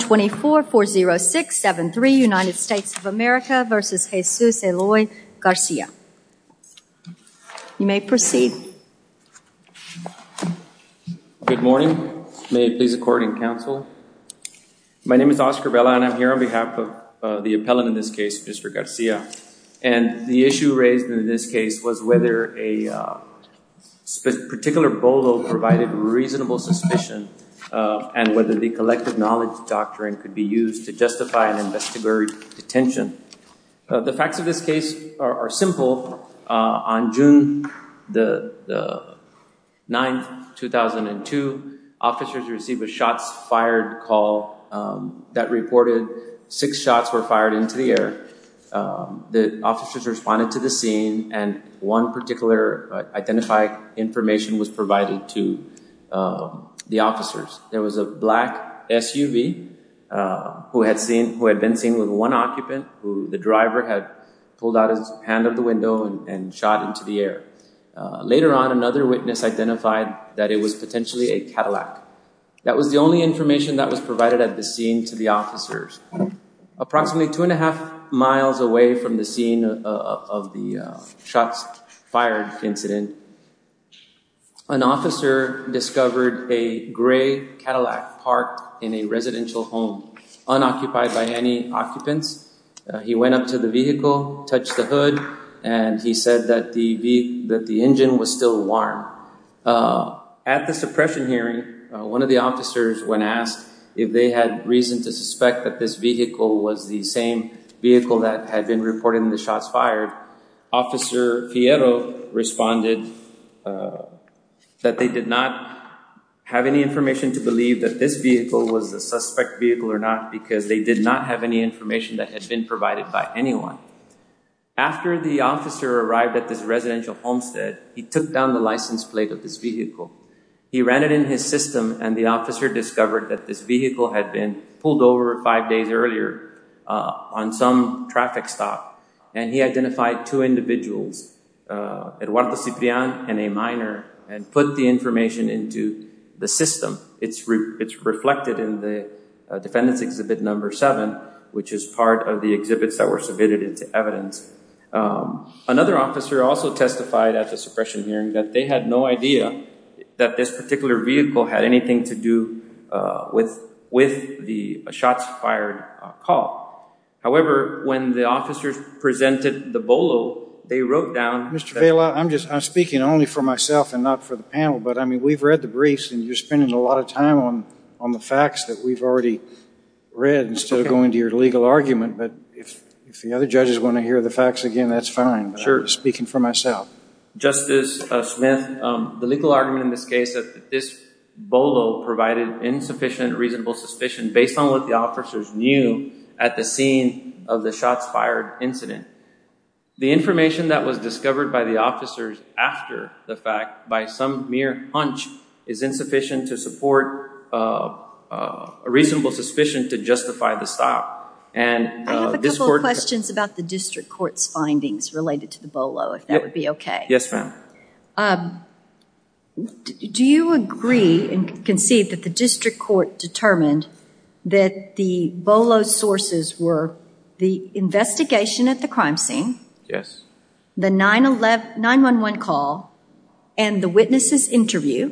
2440673 United States of America v. Jesus Eloy Garcia. You may proceed. Good morning. May it please the court and counsel. My name is Oscar Vela and I'm here on behalf of the appellant in this case, Mr. Garcia. And the issue raised in this case was whether a particular BOLO provided reasonable suspicion and whether the collective knowledge doctrine could be used to justify an investigatory detention. The facts of this case are simple. On June the 9th, 2002, officers received a shots fired call that reported six shots were fired into the air. The officers responded to the scene and one particular identified information was provided to the officers. There was a black SUV who had been seen with one occupant who the driver had pulled out his hand of the window and shot into the air. Later on, another witness identified that it was potentially a Cadillac. That was the only information that was provided at the scene to the officers. Approximately two and a half miles away from the scene of the shots fired incident, an officer discovered a gray Cadillac parked in a residential home, unoccupied by any occupants. He went up to the vehicle, touched the hood, and he said that the engine was still warm. At the suppression hearing, one of the officers, when asked if they had reason to suspect that this vehicle was the same vehicle that had been reported in the shots fired, Officer Fierro responded that they did not have any information to believe that this vehicle was a suspect vehicle or not because they did not have any information that had been provided by anyone. After the officer arrived at this residential homestead, he took down the license plate of this vehicle. He ran it in his system and the officer discovered that this vehicle had been pulled over five days earlier on some traffic stop. He identified two individuals, Eduardo Ciprian and a minor, and put the information into the system. It's reflected in the Defendant's Exhibit No. 7, which is part of the exhibits that were submitted into evidence. Another officer also testified at the suppression hearing that they had no idea that this particular vehicle had been reported in the shots fired call. However, when the officers presented the BOLO, they wrote down that… Mr. Vela, I'm speaking only for myself and not for the panel, but we've read the briefs and you're spending a lot of time on the facts that we've already read instead of going to your legal argument, but if the other judges want to hear the facts again, that's fine. Sure. I'm speaking for myself. Justice Smith, the legal argument in this case is that this BOLO provided insufficient reasonable suspicion based on what the officers knew at the scene of the shots fired incident. The information that was discovered by the officers after the fact by some mere hunch is insufficient to support a reasonable suspicion to justify the stop. And this court… I have a couple of questions about the district court's findings related to the BOLO, if that would be okay. Yes, ma'am. Mr. Vela, do you agree and concede that the district court determined that the BOLO's sources were the investigation at the crime scene, the 911 call, and the witness' interview,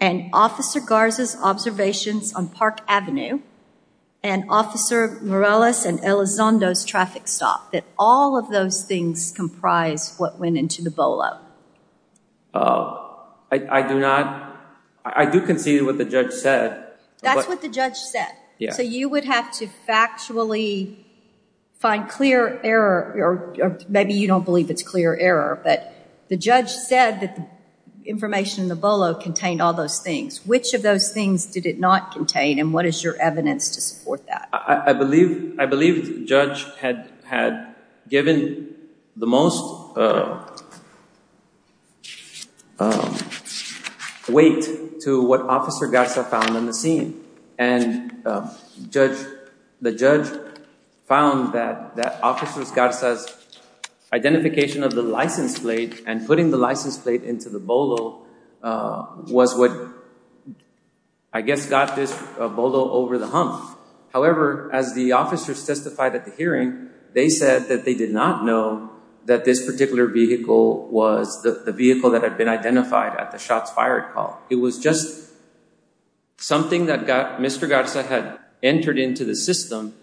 and Officer Garza's observations on Park Avenue, and Officer Morales and Elizondo's traffic stop, that all of those things comprise what went into the BOLO? I do not. I do concede what the judge said. That's what the judge said? Yes. So you would have to factually find clear error, or maybe you don't believe it's clear error, but the judge said that the information in the BOLO contained all those things. Which of those things did it not contain, and what is your evidence to support that? I believe the judge had given the most weight to what Officer Garza found on the scene, and the judge found that Officer Garza's identification of the license plate and putting the license plate into the BOLO was what, I guess, got this BOLO over the hump. However, as the officers testified at the hearing, they said that they did not know that this particular vehicle was the vehicle that had been identified at the shots fired call. It was just something that Mr. Garza had entered into the system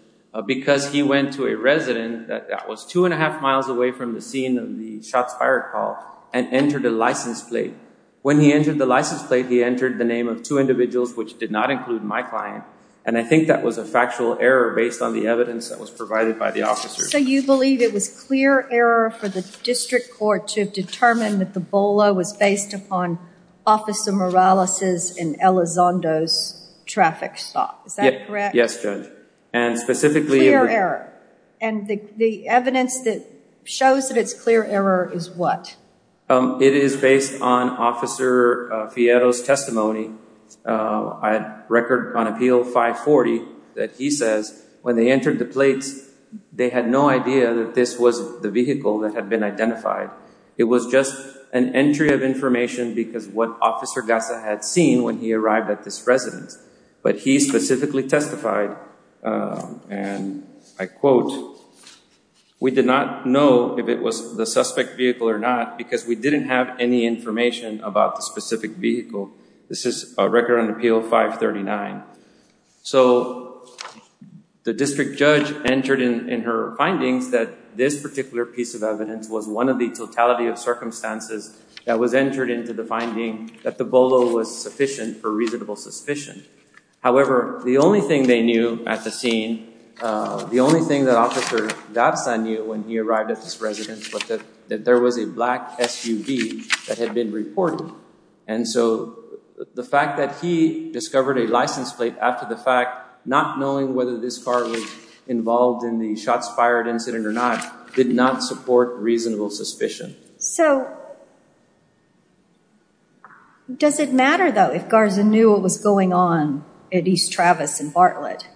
because he went to a resident that was two and a half miles away from the scene of the shots fired call, and entered a license plate. When he entered the license plate, he entered the name of two individuals, which did not include my client, and I think that was a factual error based on the evidence that was provided by the officers. You believe it was clear error for the district court to determine that the BOLO was based upon Officer Morales' and Elizondo's traffic stop, is that correct? Yes, Judge. And specifically- And the evidence that shows that it's clear error is what? It is based on Officer Fierro's testimony. I had a record on appeal 540 that he says when they entered the plates, they had no idea that this was the vehicle that had been identified. It was just an entry of information because what Officer Garza had seen when he arrived at this residence, but he specifically testified, and I quote, we did not know if it was the suspect vehicle or not because we didn't have any information about the specific vehicle. This is a record on appeal 539. So the district judge entered in her findings that this particular piece of evidence was one of the totality of circumstances that was entered into the finding that the BOLO was sufficient for reasonable suspicion. However, the only thing they knew at the scene, the only thing that Officer Garza knew when he arrived at this residence was that there was a black SUV that had been reported. And so the fact that he discovered a license plate after the fact, not knowing whether this car was involved in the shots fired incident or not, did not support reasonable suspicion. So does it matter though if Garza knew what was going on at East Travis and Bartlett?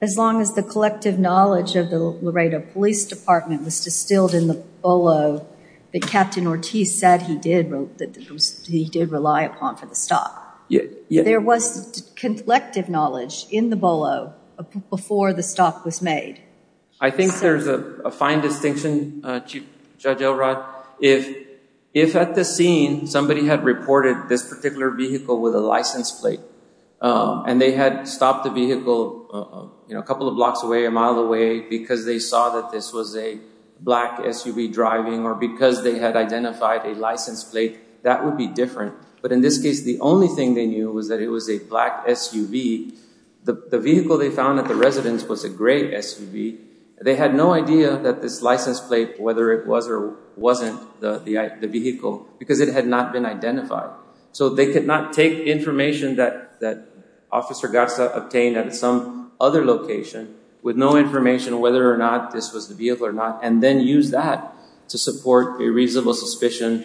As long as the collective knowledge of the Laredo Police Department was distilled in the BOLO that Captain Ortiz said he did rely upon for the stop. There was collective knowledge in the BOLO before the stop was made. I think there's a fine distinction, Chief Judge Elrod, if at the scene somebody had reported this particular vehicle with a license plate and they had stopped the vehicle a couple blocks away, a mile away, because they saw that this was a black SUV driving or because they had identified a license plate, that would be different. But in this case, the only thing they knew was that it was a black SUV. The vehicle they found at the residence was a gray SUV. They had no idea that this license plate, whether it was or wasn't the vehicle, because it had not been identified. So they could not take information that Officer Garza obtained at some other location with no information whether or not this was the vehicle or not and then use that to support a reasonable suspicion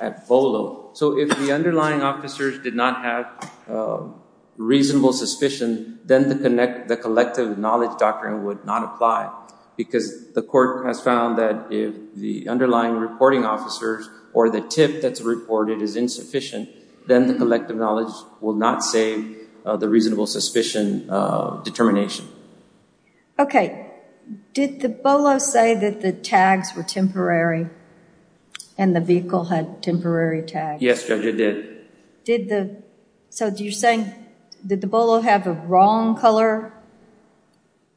at BOLO. So if the underlying officers did not have reasonable suspicion, then the collective knowledge doctrine would not apply because the court has found that if the underlying reporting officers or the tip that's reported is insufficient, then the collective knowledge will not save the reasonable suspicion determination. Okay. Did the BOLO say that the tags were temporary and the vehicle had temporary tags? Yes, Judge, it did. Did the, so you're saying, did the BOLO have a wrong color?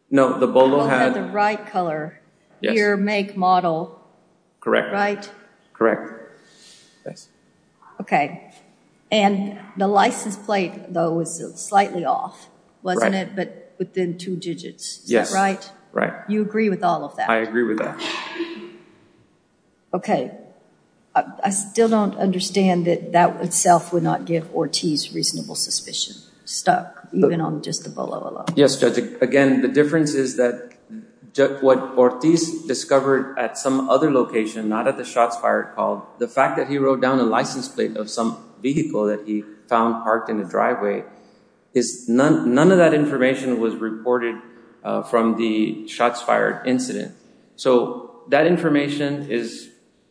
No, the BOLO had the right color. Yes. Gear, make, model. Correct. Correct. And the license plate, though, was slightly off, wasn't it? But within two digits, is that right? Right. You agree with all of that? I agree with that. Okay. I still don't understand that that itself would not give Ortiz reasonable suspicion, stuck, even on just the BOLO alone. Yes, Judge. Again, the difference is that what Ortiz discovered at some other location, not at the shots fired, called the fact that he wrote down a license plate of some vehicle that he found parked in the driveway, is none of that information was reported from the shots fired incident. So that information is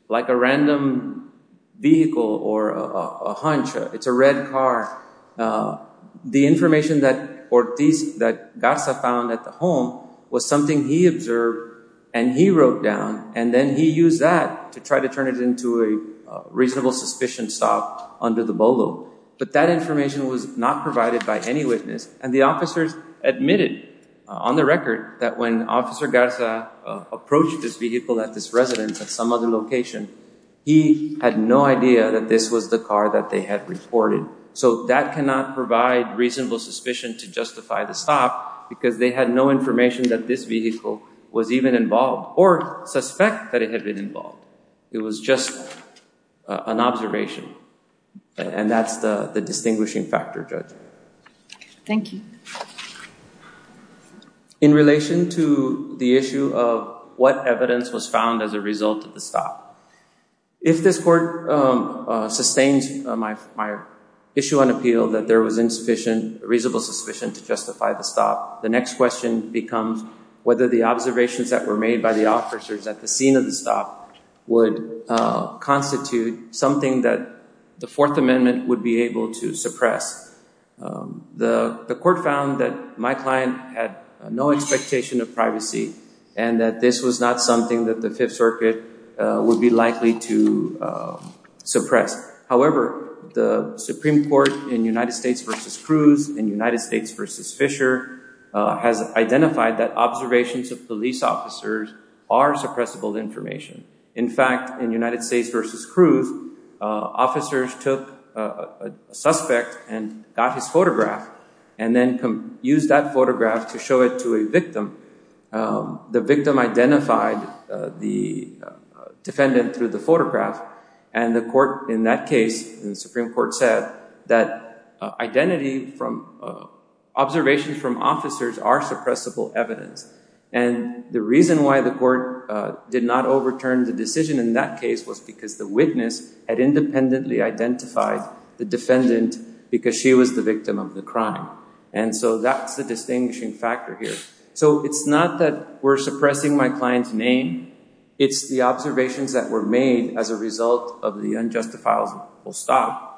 like a random vehicle or a hunch. It's a red car. The information that Ortiz, that Garza found at the home, was something he observed and he wrote down, and then he used that to try to turn it into a reasonable suspicion stop under the BOLO. But that information was not provided by any witness. And the officers admitted on the record that when Officer Garza approached this vehicle at this residence at some other location, he had no idea that this was the car that they had reported. So that cannot provide reasonable suspicion to justify the stop because they had no information that this vehicle was even involved or suspect that it had been involved. It was just an observation. And that's the distinguishing factor, Judge. Thank you. In relation to the issue of what evidence was found as a result of the stop, if this Court sustains my issue on appeal that there was insufficient reasonable suspicion to justify the stop, the next question becomes whether the observations that were made by the officers at the scene of the stop would constitute something that the Fourth Amendment would be able to suppress. The Court found that my client had no expectation of privacy and that this was not something that the Fifth Circuit would be likely to suppress. However, the Supreme Court in United States v. Cruz, in United States v. Fisher, has identified that observations of police officers are suppressible information. In fact, in United States v. Cruz, officers took a suspect and got his photograph and then used that photograph to show it to a victim. The victim identified the defendant through the photograph and the Court in that case, in the Supreme Court, said that identity from observations from officers are suppressible evidence. And the reason why the Court did not overturn the decision in that case was because the witness had independently identified the defendant because she was the victim of the crime. And so that's the distinguishing factor here. So it's not that we're suppressing my client's name. It's the observations that were made as a result of the unjustifiable stop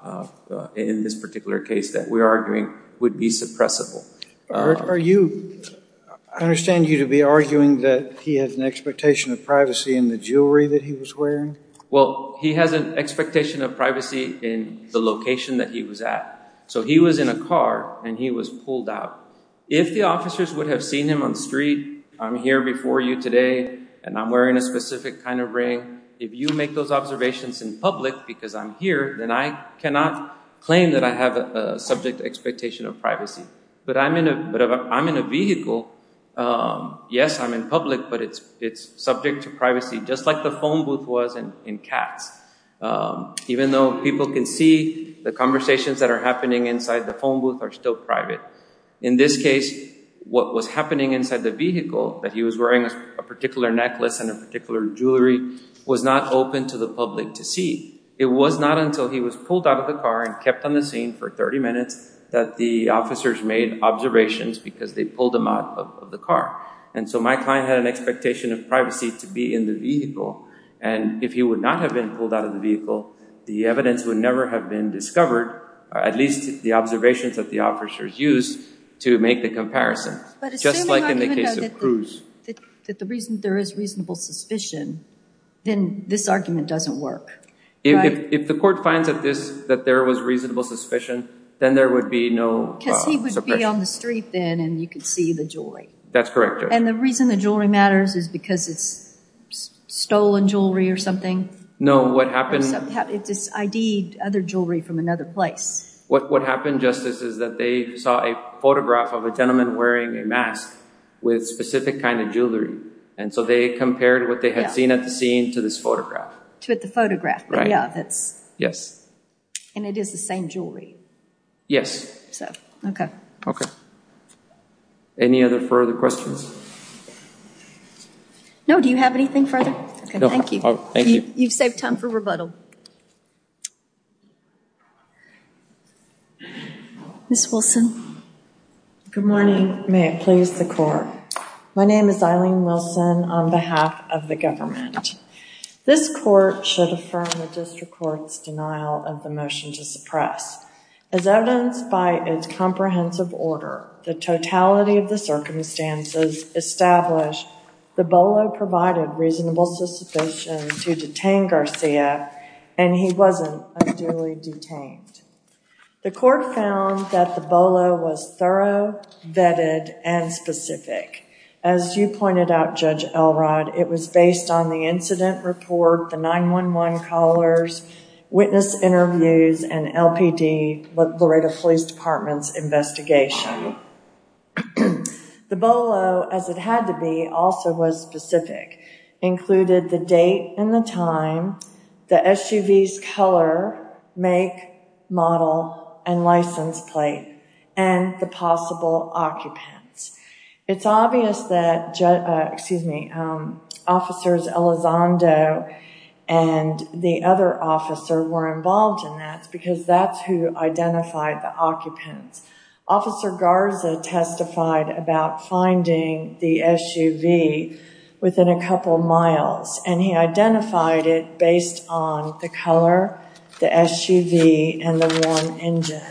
in this particular case that we're arguing would be suppressible. Are you, I understand you to be arguing that he has an expectation of privacy in the jewelry that he was wearing? Well, he has an expectation of privacy in the location that he was at. So he was in a car and he was pulled out. If the officers would have seen him on the street, I'm here before you today and I'm wearing a specific kind of ring. If you make those observations in public because I'm here, then I cannot claim that I have a subject expectation of privacy. But if I'm in a vehicle, yes, I'm in public, but it's subject to privacy just like the phone booth was in Katz. Even though people can see the conversations that are happening inside the phone booth are still private. In this case, what was happening inside the vehicle, that he was wearing a particular necklace and a particular jewelry, was not open to the public to see. It was not until he was pulled out of the car and kept on the scene for 30 minutes that the officers made observations because they pulled him out of the car. And so my client had an expectation of privacy to be in the vehicle. And if he would not have been pulled out of the vehicle, the evidence would never have been discovered, at least the observations that the officers used to make the comparison. Just like in the case of Cruz. But assuming that there is reasonable suspicion, then this argument doesn't work, right? If the court finds that there was reasonable suspicion, then there would be no suppression. Because he would be on the street then and you could see the jewelry. That's correct, Judge. And the reason the jewelry matters is because it's stolen jewelry or something? No, what happened... It ID'd other jewelry from another place. What happened, Justice, is that they saw a photograph of a gentleman wearing a mask with specific kind of jewelry. And so they compared what they had seen at the scene to this photograph. To the photograph, but yeah, that's... Yes. And it is the same jewelry? Yes. So, okay. Okay. Any other further questions? No, do you have anything further? Okay, thank you. You've saved time for rebuttal. Ms. Wilson. Good morning. May it please the court. My name is Eileen Wilson on behalf of the government. This court should affirm the district court's denial of the motion to suppress. As evidenced by its comprehensive order, the totality of the circumstances establish the Bolo provided reasonable suspicion to detain Garcia and he wasn't unduly detained. The court found that the Bolo was thorough, vetted, and specific. As you pointed out, Judge Elrod, it was based on the incident report, the 911 callers, witness interviews, and LPD, Laredo Police Department's investigation. The Bolo, as it had to be, also was specific. Included the date and the time, the SUV's color, make, model, and license plate, and the possible occupants. It's obvious that officers Elizondo and the other officer were involved in that because that's who identified the occupants. Officer Garza testified about finding the SUV within a couple miles, and he identified it based on the color, the SUV, and the worn engine.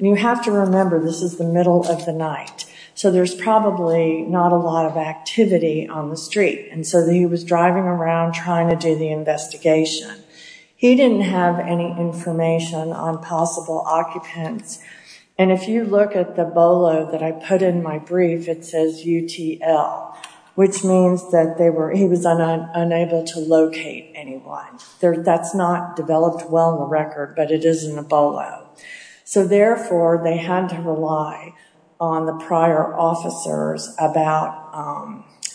You have to remember this is the middle of the night, so there's probably not a lot of activity on the street, and so he was driving around trying to do the investigation. He didn't have any information on possible occupants, and if you look at the Bolo that I put in my brief, it says UTL, which means that he was unable to locate anyone. That's not developed well in the record, but it is in the Bolo. Therefore, they had to rely on the prior officers about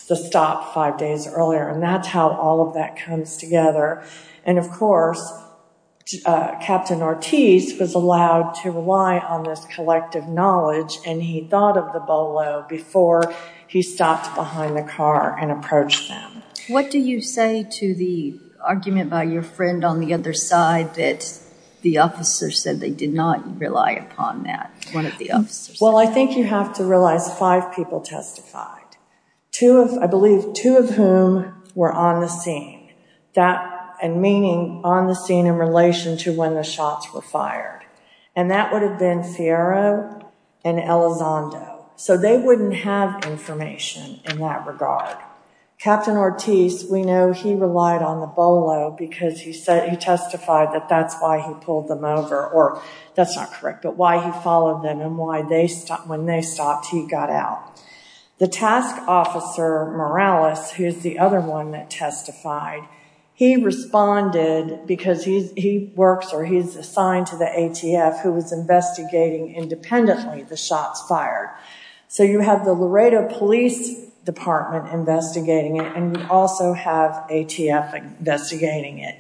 the stop five days earlier, and that's how all of that comes together. Of course, Captain Ortiz was allowed to rely on this collective knowledge, and he thought of the Bolo before he stopped behind the car and approached them. What do you say to the argument by your friend on the other side that the officer said they did not rely upon that, one of the officers? Well, I think you have to realize five people testified, I believe two of whom were on the scene. That and meaning on the scene in relation to when the shots were fired, and that would have been Fierro and Elizondo, so they wouldn't have information in that regard. Captain Ortiz, we know he relied on the Bolo because he said, he testified that that's why he pulled them over, or that's not correct, but why he followed them, and why when they stopped, he got out. The task officer, Morales, who's the other one that testified, he responded because he works or he's assigned to the ATF who was investigating independently the shots fired. So you have the Laredo Police Department investigating it, and you also have ATF investigating it,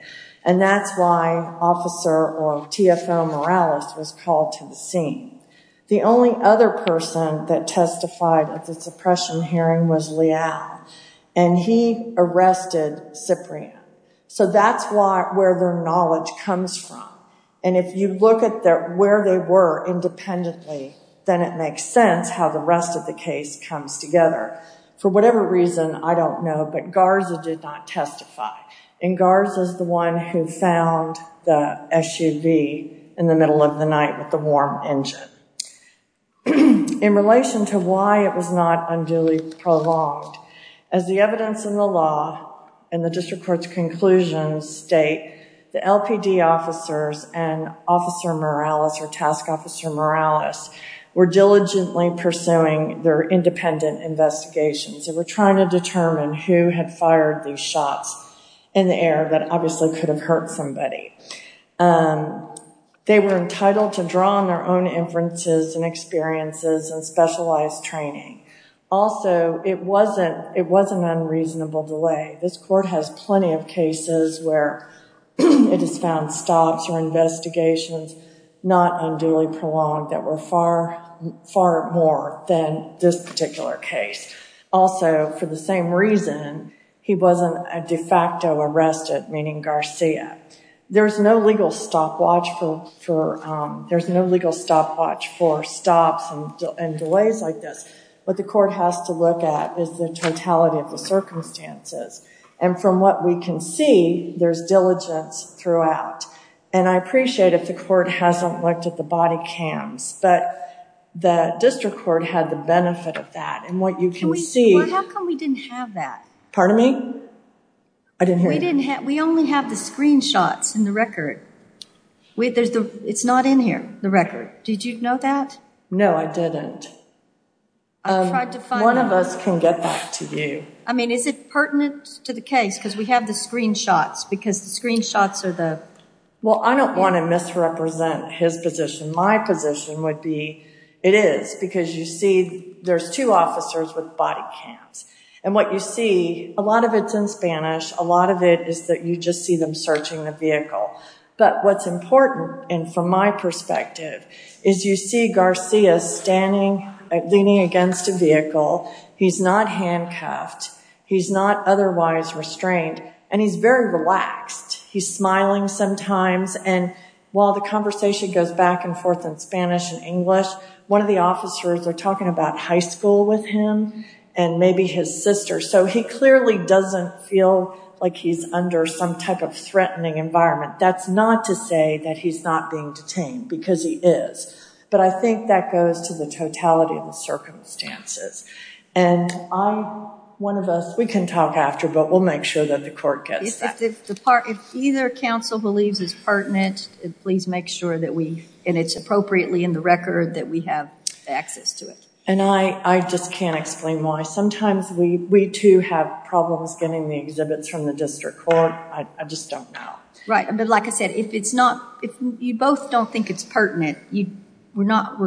and that's why Officer or TFO Morales was called to the scene. The only other person that testified at the suppression hearing was Leal, and he arrested Ciprian. So that's where their knowledge comes from, and if you look at where they were independently, then it makes sense how the rest of the case comes together. For whatever reason, I don't know, but Garza did not testify, and Garza's the one who found the SUV in the middle of the night with the warm engine. In relation to why it was not unduly prolonged, as the evidence in the law and the district court's conclusions state, the LPD officers and Officer Morales or Task Officer Morales were diligently pursuing their independent investigations. They were trying to determine who had fired these shots in the air that obviously could have hurt somebody. They were entitled to draw on their own inferences and experiences and specialized training. Also, it was an unreasonable delay. This court has plenty of cases where it has found stops or investigations not unduly prolonged that were far more than this particular case. Also, for the same reason, he wasn't de facto arrested, meaning Garcia. There's no legal stopwatch for stops and delays like this. What the court has to look at is the totality of the circumstances, and from what we can see, there's diligence throughout. I appreciate if the court hasn't looked at the body cams, but the district court had the benefit of that, and what you can see- How come we didn't have that? Pardon me? I didn't hear you. We only have the screenshots in the record. It's not in here, the record. Did you know that? No, I didn't. One of us can get that to you. I mean, is it pertinent to the case? Because we have the screenshots, because the screenshots are the- Well, I don't want to misrepresent his position. My position would be it is, because you see there's two officers with body cams, and what you see, a lot of it's in Spanish, a lot of it is that you just see them searching the vehicle, but what's important, and from my perspective, is you see Garcia standing, leaning against a vehicle. He's not handcuffed. He's not otherwise restrained, and he's very relaxed. He's smiling sometimes, and while the conversation goes back and forth in Spanish and English, one of the officers, they're talking about high school with him and maybe his sister, so he clearly doesn't feel like he's under some type of threatening environment. That's not to say that he's not being detained, because he is, but I think that goes to the totality of the circumstances, and I, one of us, we can talk after, but we'll make sure that the court gets that. If either counsel believes it's pertinent, please make sure that we, and it's appropriately in the record, that we have access to it. And I just can't explain why. Sometimes we, too, have problems getting the exhibits from the district court. I just don't know. Right, but like I said, if it's not, if you both don't think it's pertinent, we're not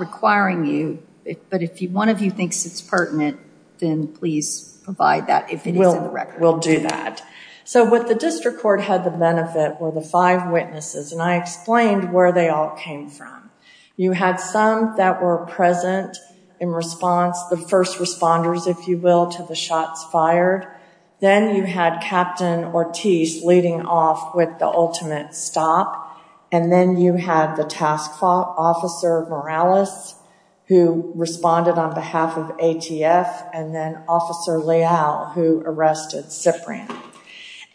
requiring you, but if one of you thinks it's pertinent, then please provide that if it is in the record. We'll do that. So what the district court had the benefit were the five witnesses, and I explained where they all came from. You had some that were present in response. The first responders, if you will, to the shots fired. Then you had Captain Ortiz leading off with the ultimate stop, and then you had the task officer Morales, who responded on behalf of ATF, and then Officer Leal, who arrested Ciprian.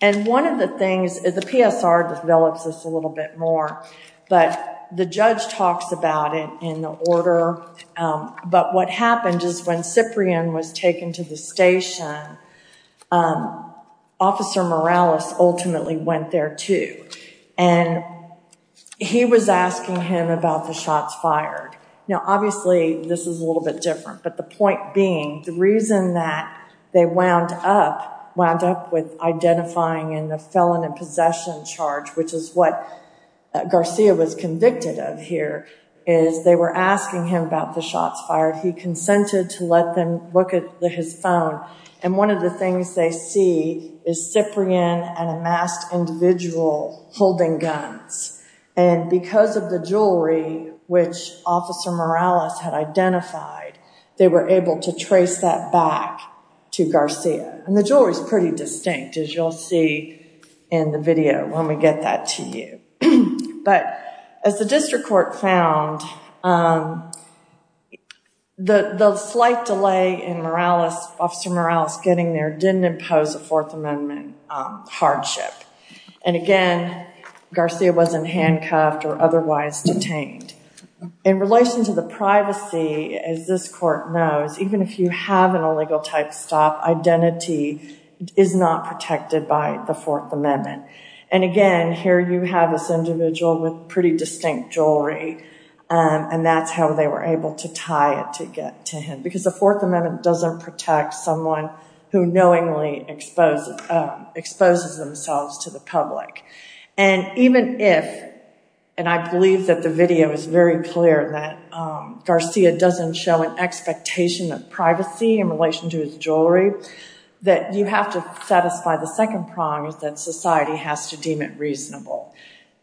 And one of the things, the PSR develops this a little bit more, but the judge talks about it in the order, but what happened is when Ciprian was taken to the station, Officer Morales ultimately went there, too, and he was asking him about the shots fired. Now, obviously, this is a little bit different, but the point being the reason that they wound up, wound up with identifying in the felon in possession charge, which is what Garcia was convicted of here, is they were asking him about the shots fired. He consented to let them look at his phone, and one of the things they see is Ciprian and a masked individual holding guns, and because of the jewelry, which Officer Morales had identified, they were able to trace that back to Garcia, and the jewelry is pretty distinct, as you'll see in the video when we get that to you. But as the district court found, the slight delay in Officer Morales getting there didn't impose a Fourth Amendment hardship, and again, Garcia wasn't handcuffed or otherwise detained. In relation to the privacy, as this court knows, even if you have an illegal type stop, identity is not protected by the Fourth Amendment, and again, here you have this individual with pretty distinct jewelry, and that's how they were able to tie it to get to him, because the Fourth Amendment doesn't protect someone who knowingly exposes themselves to the public, and even if, and I believe that the video is very clear that Garcia doesn't show an expectation of privacy in relation to his jewelry, that you have to satisfy the second prong is that society has to deem it reasonable,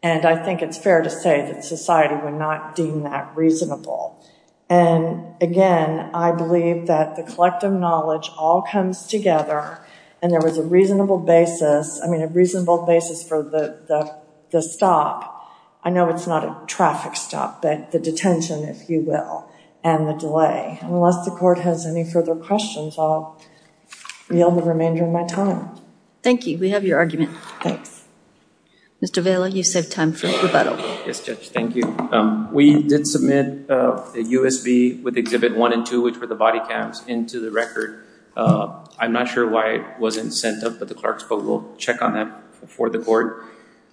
and I think it's fair to say that society would not deem that reasonable, and again, I believe that the collective knowledge all comes together, and there was a reasonable basis, I mean, a reasonable basis for the stop. I know it's not a traffic stop, but the detention, if you will, and the delay. Unless the court has any further questions, I'll yield the remainder of my time. Thank you, we have your argument. Thanks. Mr. Vela, you save time for rebuttal. Yes, Judge, thank you. We did submit a USB with exhibit one and two, which were the body cams, into the record. I'm not sure why it wasn't sent up, but the clerk spoke, we'll check on that before the court.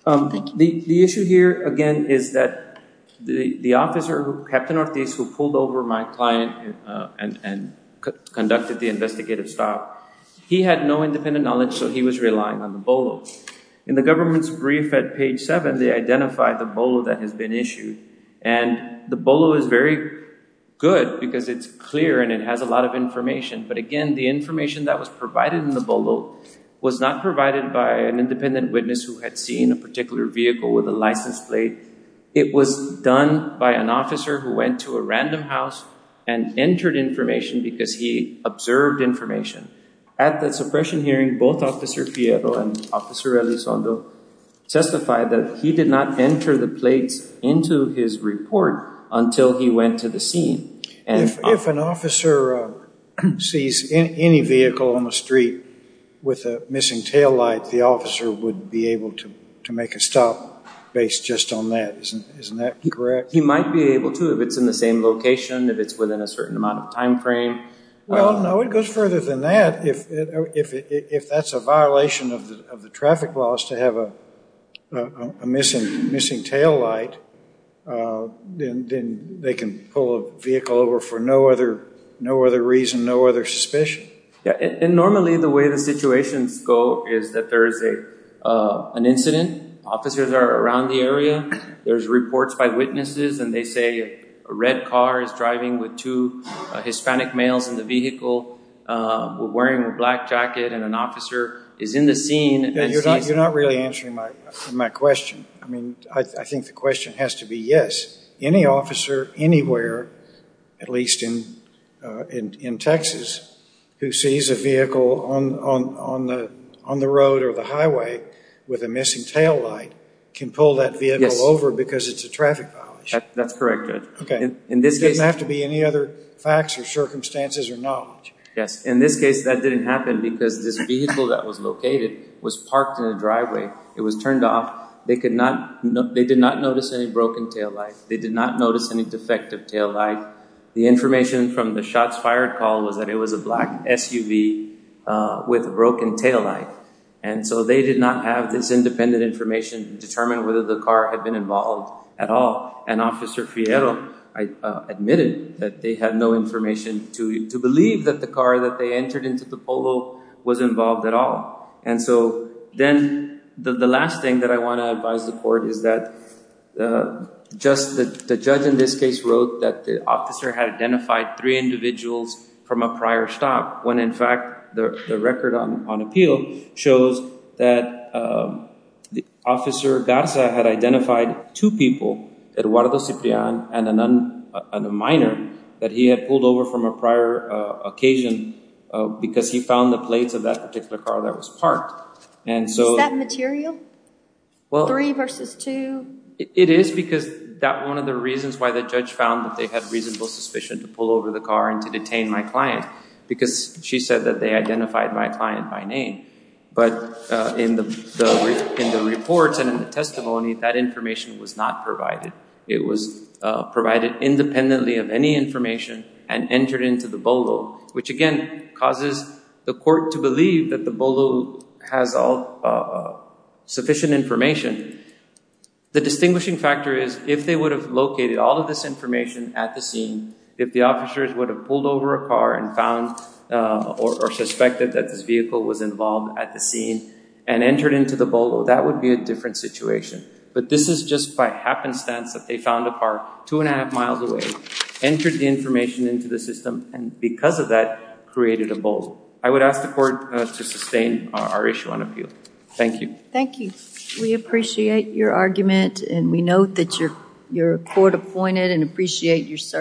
The issue here, again, is that the officer, Captain Ortiz, who pulled over my client and conducted the investigative stop, he had no independent knowledge, so he was relying on the BOLO. In the government's brief at page seven, they identified the BOLO that has been issued, and the BOLO is very good because it's clear and it has a lot of information, but again, the information that was provided in the BOLO was not provided by an independent witness who had seen a particular vehicle with a license plate. It was done by an officer who went to a random house and entered information because he observed information. At the suppression hearing, both Officer Fierro and Officer Elizondo testified that he did not enter the plates into his report until he went to the scene. If an officer sees any vehicle on the street with a missing taillight, the officer would be able to make a stop based just on that, isn't that correct? He might be able to if it's in the same location, if it's within a certain amount of time frame. Well, no, it goes further than that. If that's a violation of the traffic laws to have a missing taillight, then they can pull a vehicle over for no other reason, no other suspicion. Yeah, and normally the way the situations go is that there is an incident, officers are around the area, there's reports by witnesses, and they say a red car is driving with two Hispanic males in the vehicle, were wearing a black jacket, and an officer is in the scene. Yeah, you're not really answering my question. I mean, I think the question has to be, yes, any officer anywhere, at least in Texas, who sees a vehicle on the road or the highway with a missing taillight, can pull that vehicle over because it's a traffic violation. That's correct, Judge. Okay, it doesn't have to be any other facts or circumstances or not. Yes, in this case that didn't happen because this vehicle that was located was parked in a driveway, it was turned off, they did not notice any broken taillight, they did not notice any defective taillight. The information from the shots fired call was that it was a black SUV with a broken taillight. And so they did not have this independent information to determine whether the car had been involved at all. And Officer Fierro admitted that they had no information to believe that the car that they entered into the polo was involved at all. And so then the last thing that I want to advise the court is that the judge in this case wrote that the officer had identified three individuals from a prior stop, when in fact the record on appeal shows that Officer Garza had identified two people Eduardo Ciprian and a minor that he had pulled over from a prior occasion because he found the plates of that particular car that was parked. Is that material? Three versus two? It is because that one of the reasons why the judge found that they had reasonable suspicion to pull over the car and to detain my client because she said that they identified my client by name. But in the reports and in the testimony that information was not provided. It was provided independently of any information and entered into the polo, which again causes the court to believe that the polo has all sufficient information. The distinguishing factor is if they would have located all of this information at the scene, if the officers would have pulled over a car and found or suspected that this vehicle was involved at the scene and entered into the polo, that would be a different situation. This is just by happenstance that they found a car two and a half miles away, entered the information into the system, and because of that, created a bulge. I would ask the court to sustain our issue on appeal. Thank you. Thank you. We appreciate your argument and we note that you're court appointed and appreciate your service.